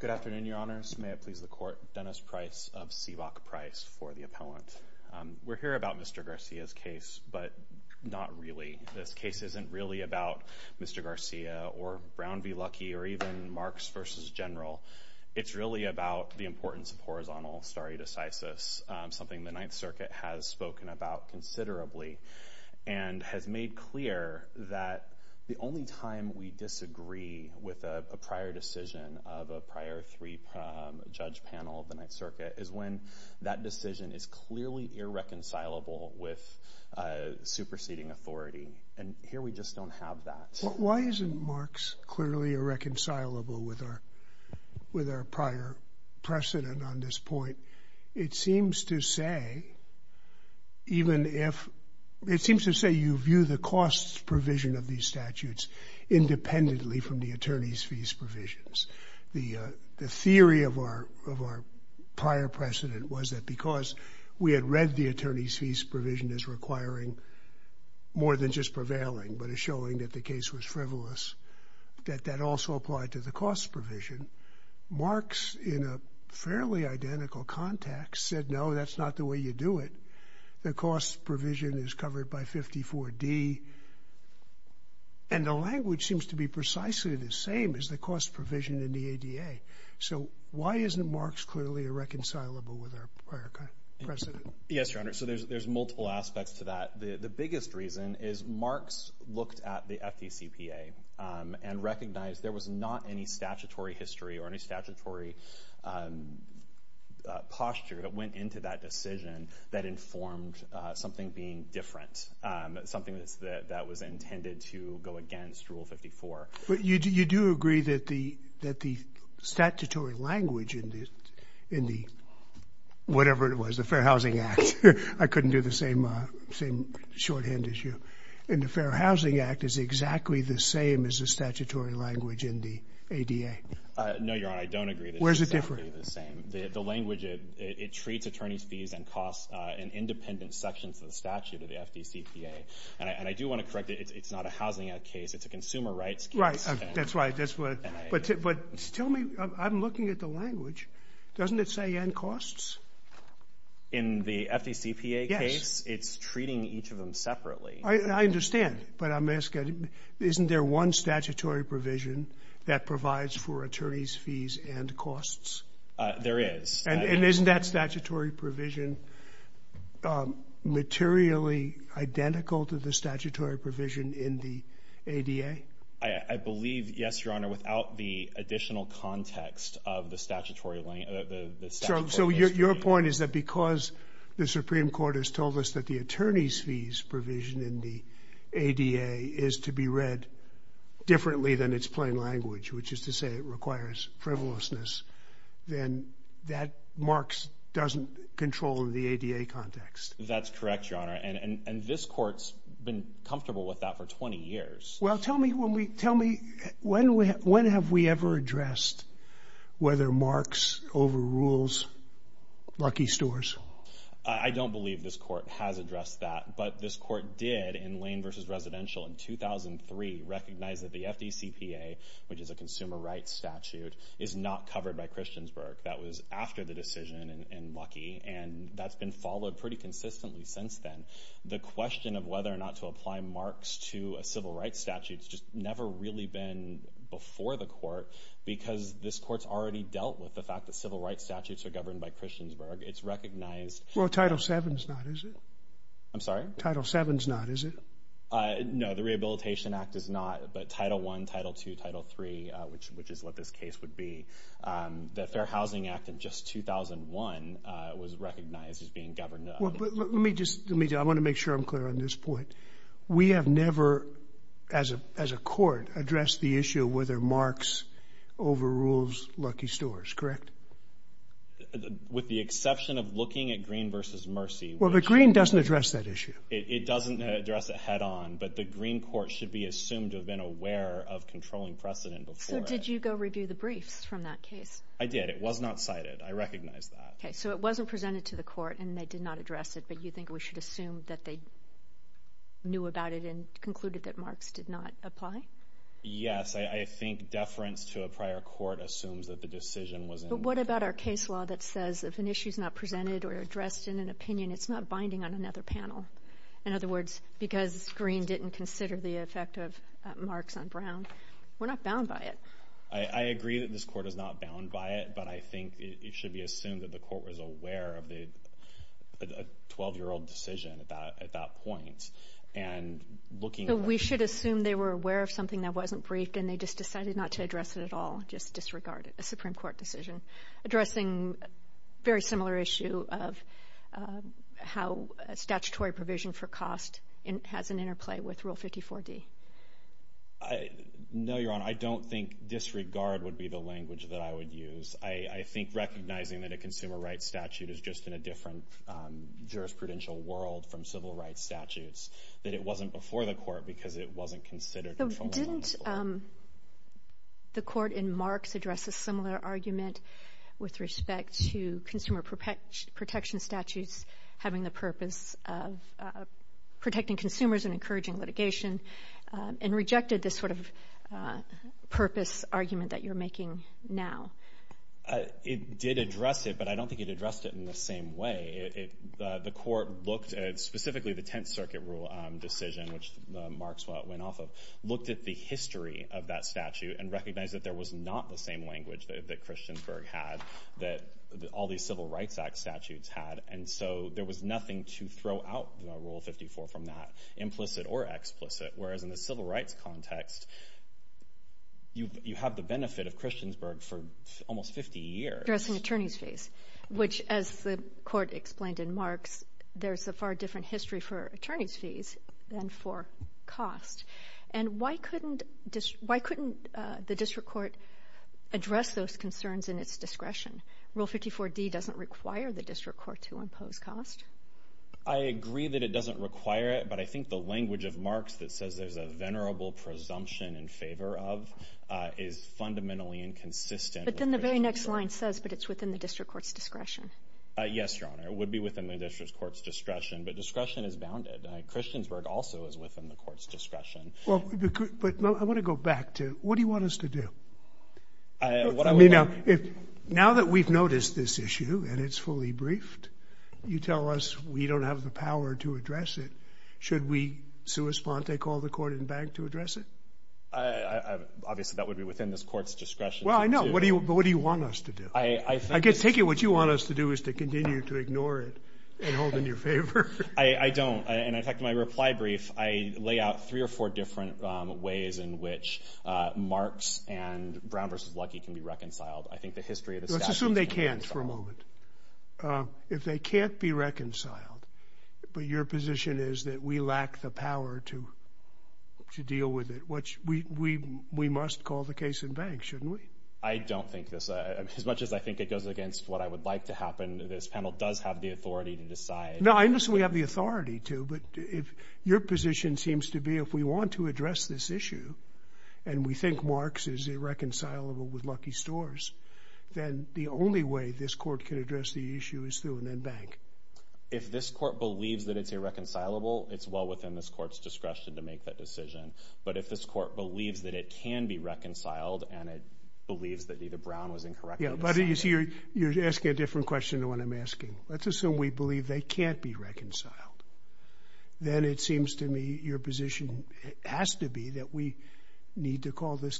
Good afternoon, your honors. May it please the court. Dennis Price of CVOC Price for the appellant. We're here about Mr. Garcia's case, but not really. This case isn't really about Mr. Garcia or Brown v. Luckey or even Marx v. General. It's really about the importance of horizontal stare decisis, something the Ninth Circuit has spoken about considerably and has made clear that the only time we disagree with a prior decision of a prior three-judge panel of the Ninth Circuit is when that decision is clearly irreconcilable with superseding authority, and here we just don't have that. Why isn't Marx clearly irreconcilable with our prior precedent on this point? It seems to say you view the costs provision of these statutes independently from the attorney's fees provisions. The theory of our prior precedent was that because we had read the attorney's fees provision as requiring more than just Marx, in a fairly identical context, said, no, that's not the way you do it. The cost provision is covered by 54D, and the language seems to be precisely the same as the cost provision in the ADA. So why isn't Marx clearly irreconcilable with our prior precedent? Yes, your honor. So there's multiple aspects to that. The biggest reason is Marx looked at the FDCPA and recognized there was not any statutory history or any statutory posture that went into that decision that informed something being different, something that was intended to go against Rule 54. But you do agree that the statutory language in the, whatever it was, the Fair Housing Act, I couldn't do the same shorthand as you, in the Fair Housing Act is exactly the same as the statutory language in the ADA. No, your honor, I don't agree. Where is it different? The language, it treats attorney's fees and costs in independent sections of the statute of the FDCPA. And I do want to correct it. It's not a Housing Act case. It's a consumer rights case. Right. That's right. But tell me, I'm looking at the language. Doesn't it say and costs? In the FDCPA case, it's treating each of them separately. I understand. But I'm asking, isn't there one statutory provision that provides for attorney's fees and costs? There is. And isn't that statutory provision materially identical to the statutory provision in the ADA? I believe, yes, your honor, without the additional context of the statutory language. So your point is that because the Supreme Court has told us that the attorney's fees provision in the ADA is to be read differently than its plain language, which is to say it requires frivolousness, then that marks doesn't control the ADA context. That's correct, your honor. And this court's been comfortable with that for 20 years. Well, tell me, when have we ever addressed whether marks overrules Lucky Stores? I don't believe this court has addressed that, but this court did in Lane v. Residential in 2003 recognize that the FDCPA, which is a consumer rights statute, is not covered by Christiansburg. That was after the decision in Lucky, and that's been followed pretty consistently since then. The question of whether or not to apply marks to a civil rights statute's just never really been before the court, because this court's already dealt with the fact that civil rights statutes are governed by Christiansburg. It's recognized... Well, Title 7's not, is it? I'm sorry? Title 7's not, is it? No, the Rehabilitation Act is not, but Title 1, Title 2, Title 3, which is what this case would be. The Fair Housing Act in just 2001 was recognized as being governed by Christiansburg. Let me just... I want to make sure I'm clear on this point. We have never, as a court, addressed the issue of whether marks overrules Lucky Stores, correct? With the exception of looking at Green v. Mercy, which... Well, but Green doesn't address that issue. It doesn't address it head-on, but the Green court should be assumed to have been aware of controlling precedent before it. So did you go review the briefs from that case? I did. It was not cited. I recognize that. Okay, so it wasn't presented to the court, and they did not address it, but you think we should assume that they knew about it and concluded that marks did not apply? Yes, I think deference to a prior court assumes that the decision was... But what about our case law that says if an issue is not presented or addressed in an opinion, it's not binding on another panel? In other words, because Green didn't consider the effect of marks on Brown, we're not bound by it. I agree that this court is not bound by it, but I think it should be assumed that the court was aware of a 12-year-old decision at that point, and looking... So we should assume they were aware of something that wasn't briefed, and they just decided not to address it at all, just disregard it, a Supreme Court decision addressing a very similar issue of how statutory provision for cost has an interplay with Rule 54D. No, I don't think disregard would be the language that I would use. I think recognizing that a consumer rights statute is just in a different jurisprudential world from civil rights statutes, that it wasn't before the court because it wasn't considered... Didn't the court in marks address a similar argument with respect to consumer protection statutes having the purpose of argument that you're making now? It did address it, but I don't think it addressed it in the same way. The court looked at specifically the Tenth Circuit rule decision, which Marks went off of, looked at the history of that statute and recognized that there was not the same language that Christiansburg had, that all these Civil Rights Act statutes had, and so there was nothing to throw out the Rule 54 from that, implicit or explicit, whereas in the civil rights context, you have the benefit of Christiansburg for almost 50 years. Addressing attorney's fees, which as the court explained in Marks, there's a far different history for attorney's fees than for cost. And why couldn't the district court address those concerns in its discretion? Rule 54D doesn't require the district court to impose cost. I agree that it doesn't require it, but I think the language of Marks that says there's a venerable presumption in favor of is fundamentally inconsistent. But then the very next line says, but it's within the district court's discretion. Yes, Your Honor, it would be within the district court's discretion, but discretion is bounded. Christiansburg also is within the court's discretion. But I want to go back to, what do you want us to do? Now that we've noticed this issue and it's fully briefed, you tell us we don't have the power to address it. Should we sua sponte call the court and back to address it? Obviously, that would be within this court's discretion. Well, I know. But what do you want us to do? I can take it what you want us to do is to continue to ignore it and hold in your favor. I don't. In fact, in my reply brief, I lay out three or four different ways in which Marks and Brown v. Luckey can be reconciled. I think the history of the statute... Let's assume they can't for a moment. If they can't be reconciled, but your position is that we lack the power to to deal with it, which we must call the case and bank, shouldn't we? I don't think this, as much as I think it goes against what I would like to happen, this panel does have the authority to decide. No, I understand we have the authority to, but if your position seems to be if we want to address this issue and we think Marks is irreconcilable with Luckey stores, then the only way this court can address the issue is through and then bank. If this court believes that it's irreconcilable, it's well within this court's discretion to make that decision. But if this court believes that it can be reconciled and it believes that either Brown was incorrect... Yeah, but you're asking a different question to what I'm asking. Let's assume we believe they can't be reconciled. Then it seems to me your position has to be that we need to call this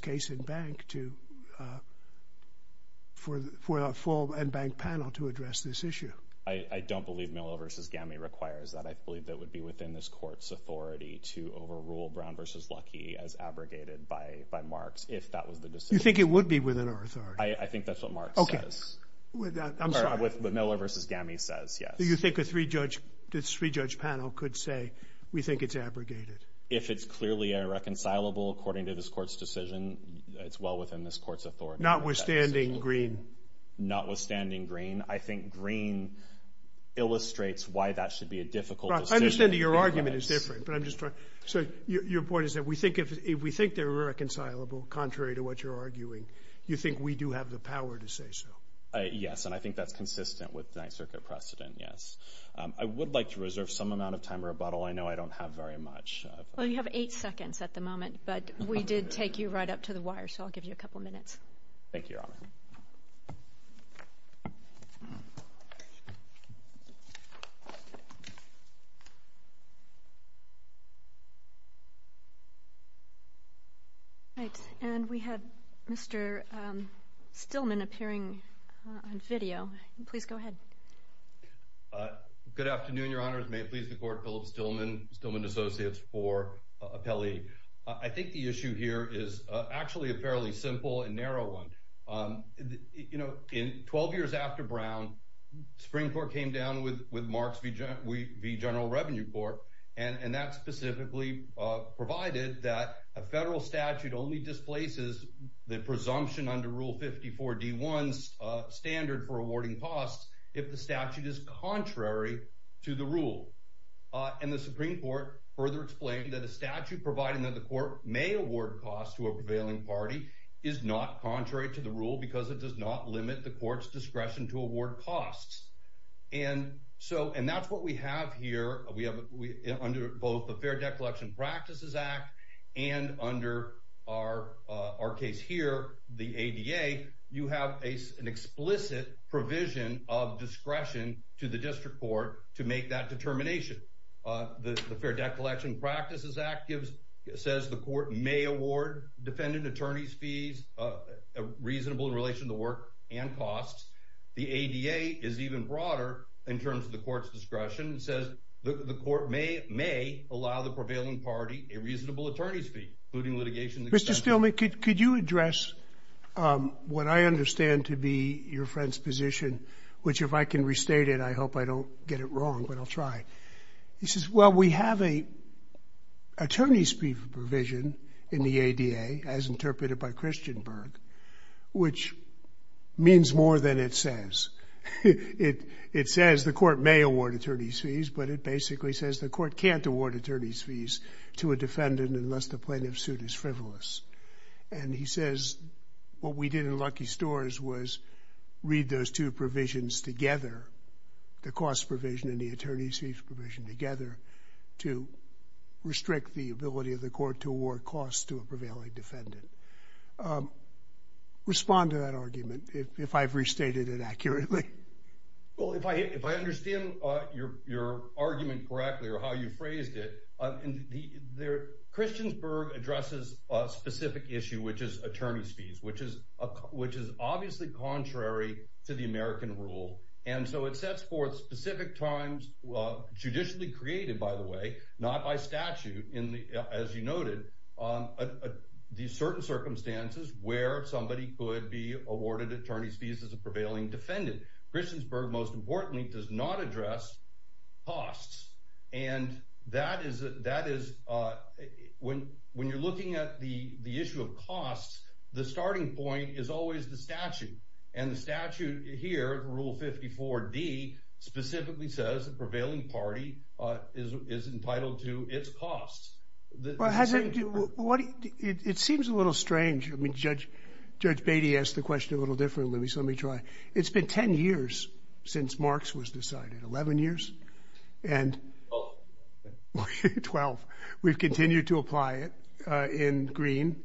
full and bank panel to address this issue. I don't believe Miller v. Gammy requires that. I believe that would be within this court's authority to overrule Brown v. Luckey as abrogated by Marks if that was the decision. You think it would be within our authority? I think that's what Miller v. Gammy says. Do you think a three-judge panel could say we think it's abrogated? If it's clearly irreconcilable according to this court's decision, it's well within this court's discretion. Notwithstanding Greene, I think Greene illustrates why that should be a difficult decision. I understand that your argument is different, but I'm just trying... So your point is that if we think they're irreconcilable, contrary to what you're arguing, you think we do have the power to say so? Yes, and I think that's consistent with the Ninth Circuit precedent, yes. I would like to reserve some amount of time or a bottle. I know I don't have very much. Well, you have eight seconds at the moment, but we did take you right up to the wire, so I'll give you a minute. All right, and we have Mr. Stillman appearing on video. Please go ahead. Good afternoon, Your Honors. May it please the Court, Philip Stillman, Stillman Associates for Appellee. I think the issue here is actually a fairly simple and narrow one. In 12 years after Brown, Supreme Court came down with Marks v. General Revenue Court, and that specifically provided that a federal statute only displaces the presumption under Rule 54 D1's standard for awarding costs if the statute is contrary to the rule. And the Supreme Court further explained that the statute providing that the court may award costs to a prevailing party is not contrary to the rule because it does not limit the court's discretion to award costs. And that's what we have here. Under both the Fair Decollection Practices Act and under our case here, the ADA, you have an explicit provision of discretion to the district court to make that determination. The Fair Decollection Practices Act says the court may award defendant attorneys fees reasonable in relation to work and costs. The ADA is even broader in terms of the court's discretion. It says the court may allow the prevailing party a reasonable attorney's fee, including litigation. Mr. Stillman, could you address what I understand to be your friend's position, which if I can restate it, I hope I don't get it wrong, but I'll try. He says, well, we have a attorney's fee provision in the ADA as interpreted by Christian Berg, which means more than it says. It says the court may award attorney's fees, but it basically says the court can't award attorney's fees to a defendant unless the plaintiff's suit is frivolous. And he puts the cost provision and the attorney's fees provision together to restrict the ability of the court to award costs to a prevailing defendant. Respond to that argument, if I've restated it accurately. Well, if I understand your argument correctly or how you phrased it, Christian Berg addresses a specific issue, which is attorney's fees, which is obviously contrary to the American rule. And so it sets forth specific times, well, judicially created, by the way, not by statute in the, as you noted, these certain circumstances where somebody could be awarded attorney's fees as a prevailing defendant. Christian Berg, most importantly, does not address costs. And that is, when you're looking at the issue of costs, the starting point is always the statute. And the statute here, Rule 54D, specifically says the prevailing party is entitled to its costs. It seems a little strange. I mean, Judge Beatty asked the question a little differently, so let me try. It's been 10 years since Marx was decided. 11 years? 12. We've continued to apply it in Green,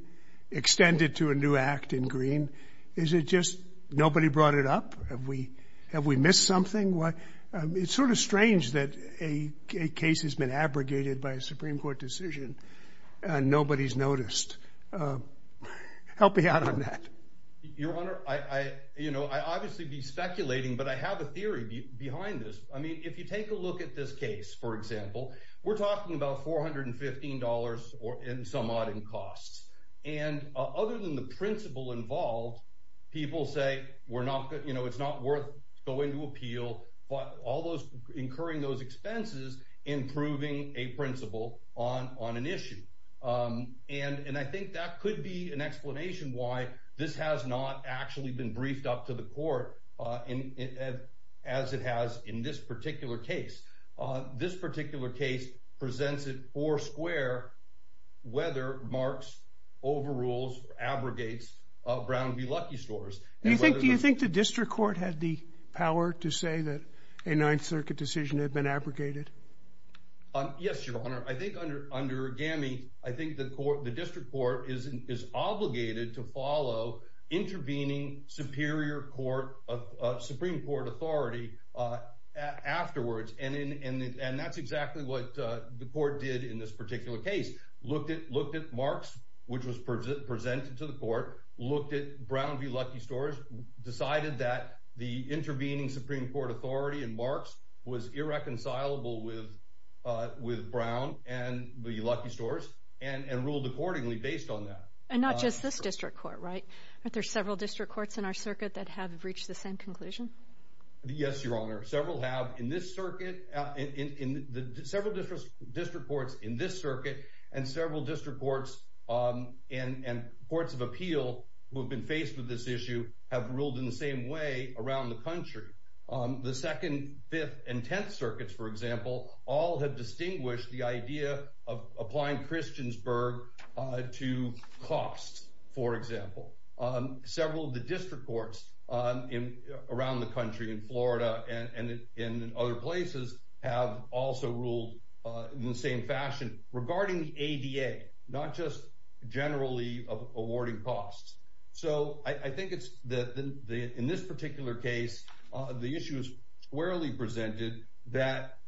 extended to a new act in Green. Is it just nobody brought it up? Have we missed something? It's sort of strange that a case has been abrogated by a Supreme Court decision and nobody's noticed. Help me out on that. Your Honor, I obviously be speculating, but I have a theory behind this. I mean, if you take a look at this case, for example, we're talking about $415 and some odd in costs. And other than the principle involved, people say, you know, it's not worth going to appeal, but incurring those expenses in proving a principle on an issue. And I think that could be an explanation why this has not actually been presented for square whether Marx overrules, abrogates Brown v. Lucky Stores. Do you think the district court had the power to say that a Ninth Circuit decision had been abrogated? Yes, Your Honor. I think under GAMI, I think the district court is obligated to follow intervening Supreme Court authority afterwards. And that's exactly what the court did in this particular case. Looked at Marx, which was presented to the court, looked at Brown v. Lucky Stores, decided that the intervening Supreme Court authority in Marx was irreconcilable with Brown and Lucky Stores, and ruled accordingly based on that. Not just this district court, right? There's several district courts in our circuit that have reached the same conclusion? Yes, Your Honor. Several have in this circuit. Several district courts in this circuit and several district courts and courts of appeal who have been faced with this issue have ruled in the same way around the country. The Second, Fifth, and Tenth Circuits, for example, all have distinguished the idea of applying Christiansburg to costs, for example. Several of the district courts around the country, in Florida and in other places, have also ruled in the same fashion regarding the ADA, not just generally of awarding costs. So I think in this particular case, the issue is squarely presented that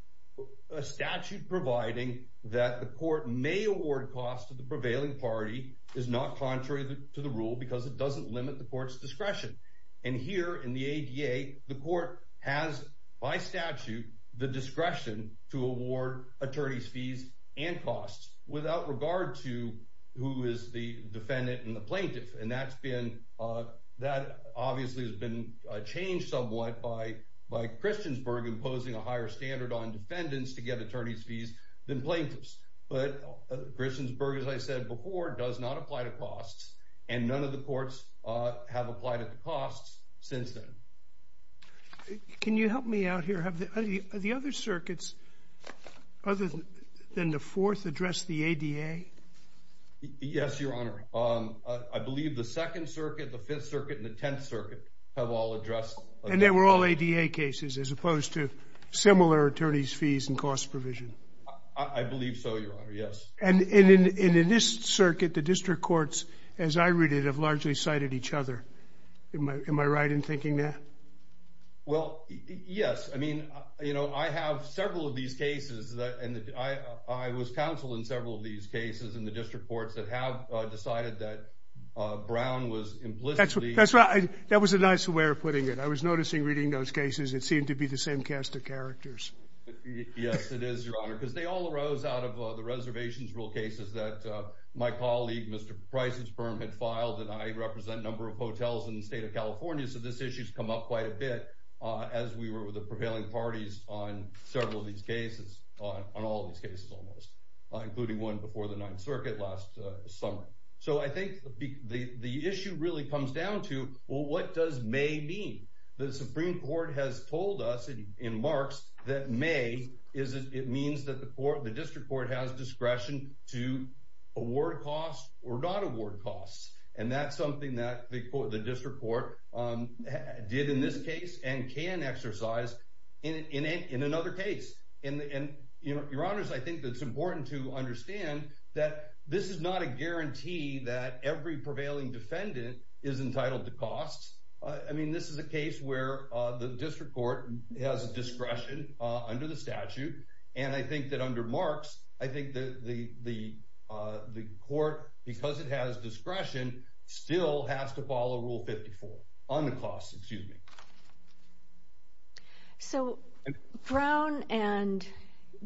a statute providing that the court may award costs to the prevailing party is not contrary to the rule because it doesn't limit the court's discretion. And here in the ADA, the court has by statute the discretion to award attorney's fees and costs without regard to who is the defendant and the plaintiff. And that obviously has been changed somewhat by Christiansburg imposing a higher standard on defendants to get attorney's fees than plaintiffs. But Christiansburg, as I said before, does not apply to costs, and none of the courts have applied at the costs since then. Can you help me out here? Have the other circuits, other than the Fourth, addressed the ADA? Yes, Your Honor. I believe the Second Circuit, the Fifth Circuit, and the Tenth Circuit have all addressed. And they were all ADA cases as opposed to similar attorney's fees and cost provision? I believe so, Your Honor, yes. And in this circuit, the district courts, as I read it, have largely cited each other. Am I right in thinking that? Well, yes. I mean, I have several of these cases, and I was counsel in several of these cases in the district courts that have decided that Brown was implicitly... That's right. That was a nice way of putting it. I was noticing, reading those cases, it seemed to be the same cast of characters. Yes, it is, Your Honor, because they all arose out of the reservations rule cases that my colleague, Mr. Preissensperm, had filed. And I represent a number of hotels in the state of California, so this issue has come up quite a bit as we were the prevailing parties on several of these cases, almost, including one before the Ninth Circuit last summer. So I think the issue really comes down to, well, what does may mean? The Supreme Court has told us in marks that may means that the district court has discretion to award costs or not award costs. And that's something that the district court did in this case and can exercise in another case. And, Your Honors, I think that it's important to understand that this is not a guarantee that every prevailing defendant is entitled to costs. I mean, this is a case where the district court has discretion under the statute, and I think that under marks, I think that the court, because it has discretion, still has to follow Rule 54 on the costs. Excuse me. So Brown and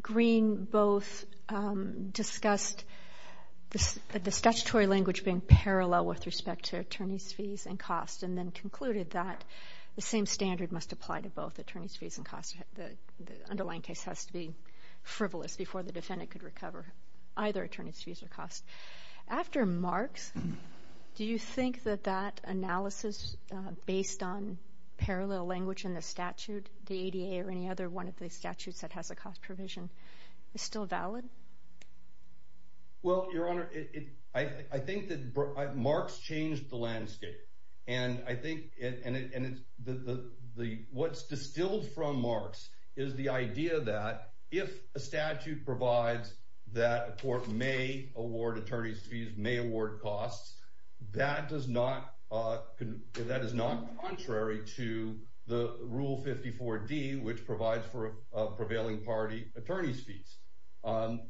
Green both discussed the statutory language being parallel with respect to attorney's fees and costs, and then concluded that the same standard must apply to both attorney's fees and costs. The underlying case has to be frivolous before the defendant could recover either attorney's fees or costs. After marks, do you think that that analysis based on parallel language in the statute, the ADA or any other one of the statutes that has a cost provision, is still valid? Well, Your Honor, I think that marks changed the landscape. And I think that what's distilled from marks is the idea that if a statute provides that a court may award attorney's fees, may award costs, that is not contrary to the Rule 54D, which provides for prevailing party attorney's fees,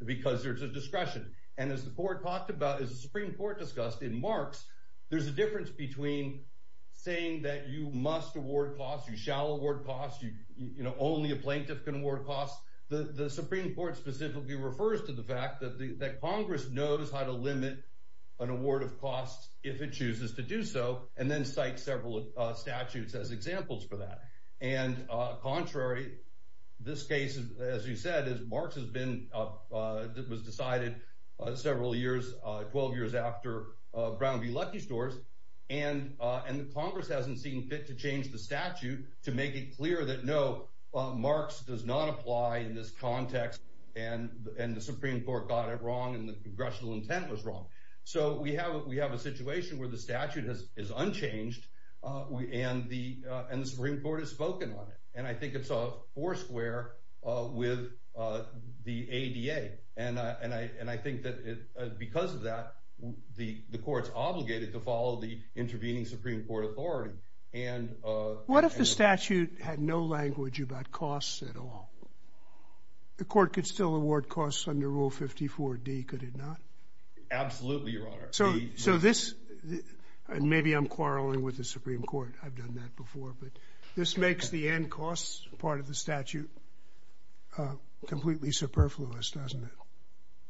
because there's a discretion. And as the Supreme Court discussed in marks, there's a difference between saying that you must award costs, you shall award costs, only a plaintiff can award costs. The Supreme Court specifically refers to the fact that Congress knows how to limit an award of costs if it chooses to do so, and then cites several statutes as examples for that. And contrary, this case, as you said, marks was decided several years, 12 years after Brown v. Lucky Stores. And the Congress hasn't seen fit to change the statute to make it clear that no, marks does not apply in this context. And the Supreme Court got it wrong, and the congressional intent was wrong. So we have a situation where the statute is unchanged, and the Supreme Court has spoken on it. And I think it's a four square with the ADA. And I think that because of that, the court's obligated to follow the intervening Supreme Court authority. What if the statute had no language about costs at all? The court could still award costs under Rule 54D, could it not? Absolutely, Your Honor. So this, and maybe I'm quarreling with the Supreme Court, I've done that before, but this makes the end costs part of the statute completely superfluous, doesn't it?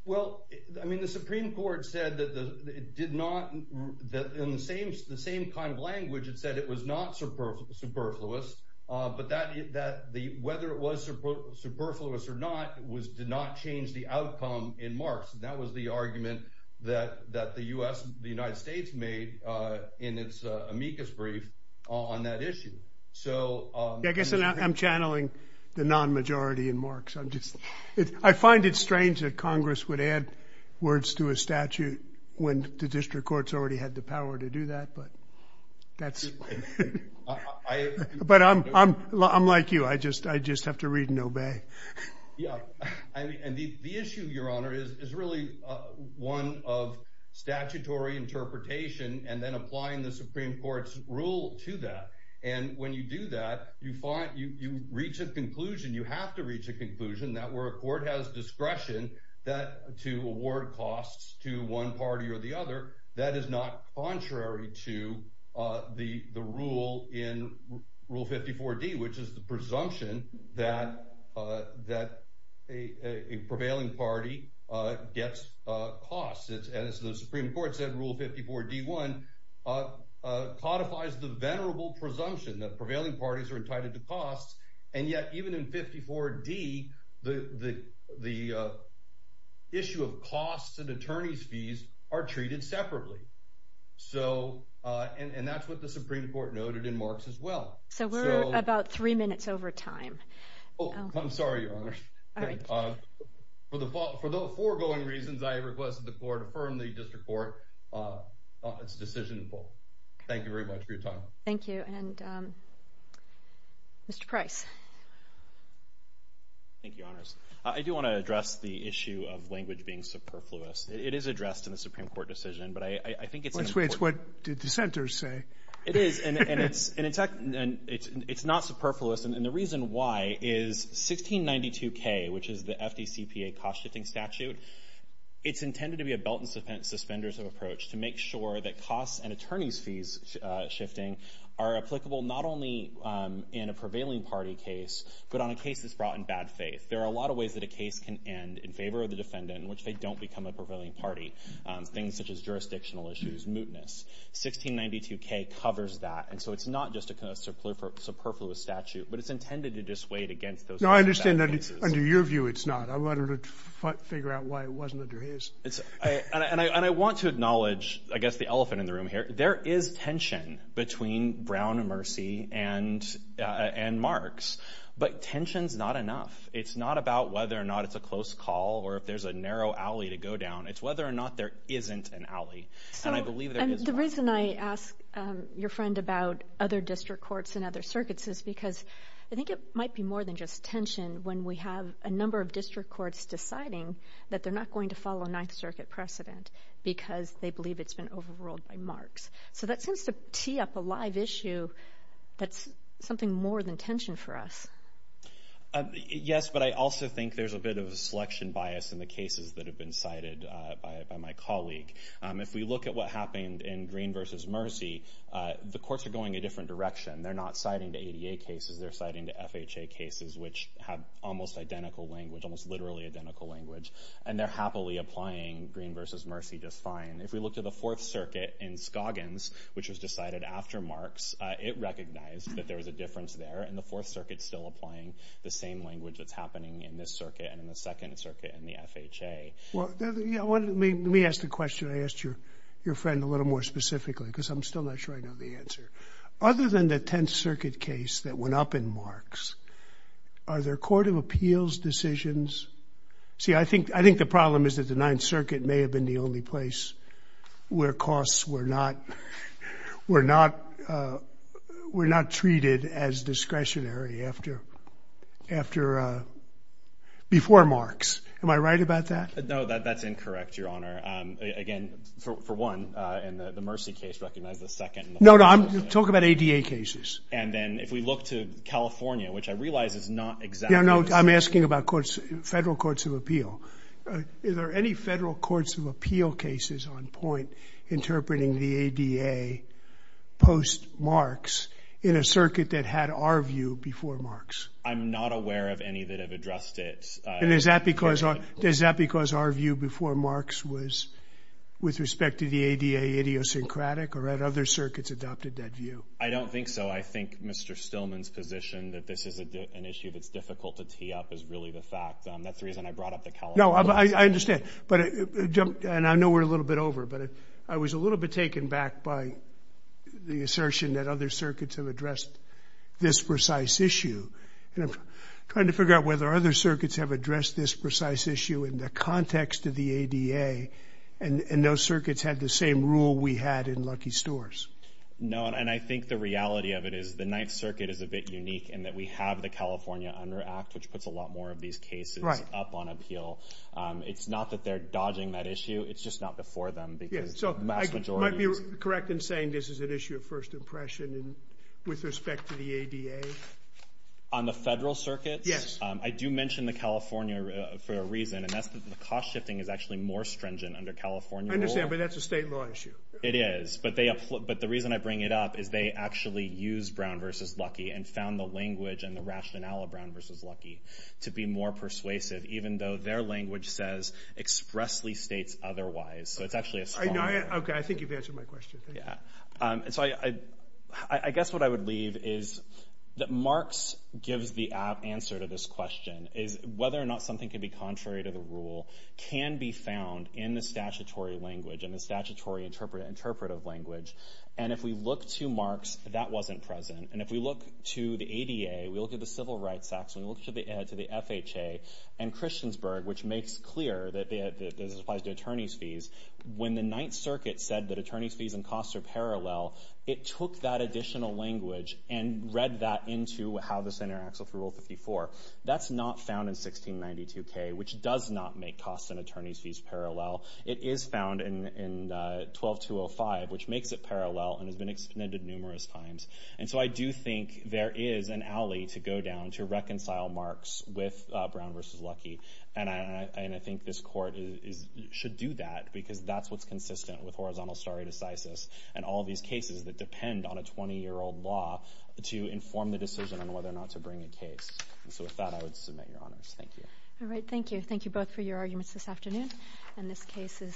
Well, I mean, the Supreme Court said that it did not, that in the same kind of language, it said it was not superfluous. But whether it was superfluous or not, it did not change the outcome in marks. And that was the argument that the US, the United States made in its amicus brief on that issue. So- I guess I'm channeling the non-majority in marks. I'm just, I find it strange that Congress would add words to a statute when the district courts already had the power to do that. But that's- But I'm like you, I just have to read and obey. Yeah. And the issue, Your Honor, is really one of statutory interpretation and then applying the Supreme Court's rule to that. And when you do that, you reach a conclusion, you have to reach a conclusion that where a court has discretion that to award costs to one party or the other, that is not contrary to the rule in Rule 54D, which is the presumption that a prevailing party gets costs. And as the Supreme Court said, Rule 54D1 codifies the venerable presumption that prevailing parties are entitled to costs. And yet, even in 54D, the issue of costs and attorney's fees are treated separately. So, and that's what the Supreme Court noted in marks as well. So we're about three minutes over time. Oh, I'm sorry, Your Honor. All right. For the foregoing reasons, I request that the court affirm the district court on its decision. Thank you very much for your time. Thank you. And Mr. Price. Thank you, Your Honors. I do want to address the issue of language being superfluous. It is addressed in the Supreme Court decision, but I think it's- Which way? It's what the dissenters say. It is. And it's not superfluous. And the reason why is 1692K, which is the FDCPA cost statute, it's intended to be a belt and suspenders approach to make sure that costs and attorney's fees shifting are applicable not only in a prevailing party case, but on a case that's brought in bad faith. There are a lot of ways that a case can end in favor of the defendant, in which they don't become a prevailing party. Things such as jurisdictional issues, mootness. 1692K covers that. And so it's not just a superfluous statute, but it's intended to dissuade against those- No, I understand that it's- Figure out why it wasn't under his. And I want to acknowledge, I guess, the elephant in the room here. There is tension between Brown and Mercy and Marks, but tension's not enough. It's not about whether or not it's a close call or if there's a narrow alley to go down. It's whether or not there isn't an alley. And I believe there is- The reason I ask your friend about other district courts and other circuits is because I think it might be more than just tension when we have a number of district courts deciding that they're not going to follow Ninth Circuit precedent because they believe it's been overruled by Marks. So that seems to tee up a live issue that's something more than tension for us. Yes, but I also think there's a bit of a selection bias in the cases that have been cited by my colleague. If we look at what happened in Green versus Mercy, the courts are going a to FHA cases which have almost identical language, almost literally identical language, and they're happily applying Green versus Mercy just fine. If we look to the Fourth Circuit in Scoggins, which was decided after Marks, it recognized that there was a difference there. And the Fourth Circuit's still applying the same language that's happening in this circuit and in the Second Circuit and the FHA. Well, let me ask the question I asked your friend a little more specifically because I'm still not sure I know the answer. Other than the Tenth Circuit case that went up in Marks, are there Court of Appeals decisions? See, I think the problem is that the Ninth Circuit may have been the only place where costs were not treated as discretionary before Marks. Am I right about that? No, that's incorrect, Your Honor. Again, for one, in the Mercy case recognized the second. No, no, I'm talking about ADA cases. And then if we look to California, which I realize is not exactly the same. Yeah, no, I'm asking about Federal Courts of Appeal. Are there any Federal Courts of Appeal cases on point interpreting the ADA post-Marks in a circuit that had our view before Marks? I'm not aware of any that have addressed it. And is that because our view before Marks was to the ADA idiosyncratic or had other circuits adopted that view? I don't think so. I think Mr. Stillman's position that this is an issue that's difficult to tee up is really the fact. That's the reason I brought up the California case. No, I understand. And I know we're a little bit over, but I was a little bit taken back by the assertion that other circuits have addressed this precise issue. And I'm trying to figure out whether other circuits have addressed this precise issue in the context of the ADA and those circuits had the same rule we had in Lucky Stores. No, and I think the reality of it is the Ninth Circuit is a bit unique in that we have the California Under Act, which puts a lot more of these cases up on appeal. It's not that they're dodging that issue. It's just not before them because the vast majority... Might be correct in saying this is an issue of first impression with respect to the ADA? On the federal circuits? Yes. I do mention the California for a reason, and that's that the cost shifting is actually more stringent under California rule. I understand, but that's a state law issue. It is. But the reason I bring it up is they actually use Brown versus Lucky and found the language and the rationale of Brown versus Lucky to be more persuasive, even though their language says expressly states otherwise. So it's actually a strong... Okay. I think you've answered my question. Thank you. Yeah. And so I guess what I would leave is that Marks gives the answer to this question, is whether or not something can be contrary to the rule can be found in the statutory language and the statutory interpretive language. And if we look to Marks, that wasn't present. And if we look to the ADA, we look at the Civil Rights Act, so we look to the FHA and Christiansburg, which makes clear that this applies to attorney's fees. When the Ninth Circuit said that attorney's fees and costs are parallel, it took that additional language and read that into how the Senator acts with Rule 54. That's not found in 1692K, which does not make costs and attorney's fees parallel. It is found in 12205, which makes it parallel and has been extended numerous times. And so I do think there is an alley to go down to reconcile Marks with Brown versus Lucky. And I think this court should do that because that's what's consistent with horizontal stare decisis and all these cases that depend on a 20-year-old law to inform the decision on whether or not to bring a case. And so with that, I would submit your honors. Thank you. All right. Thank you. Thank you both for your arguments this afternoon. And this case is submitted.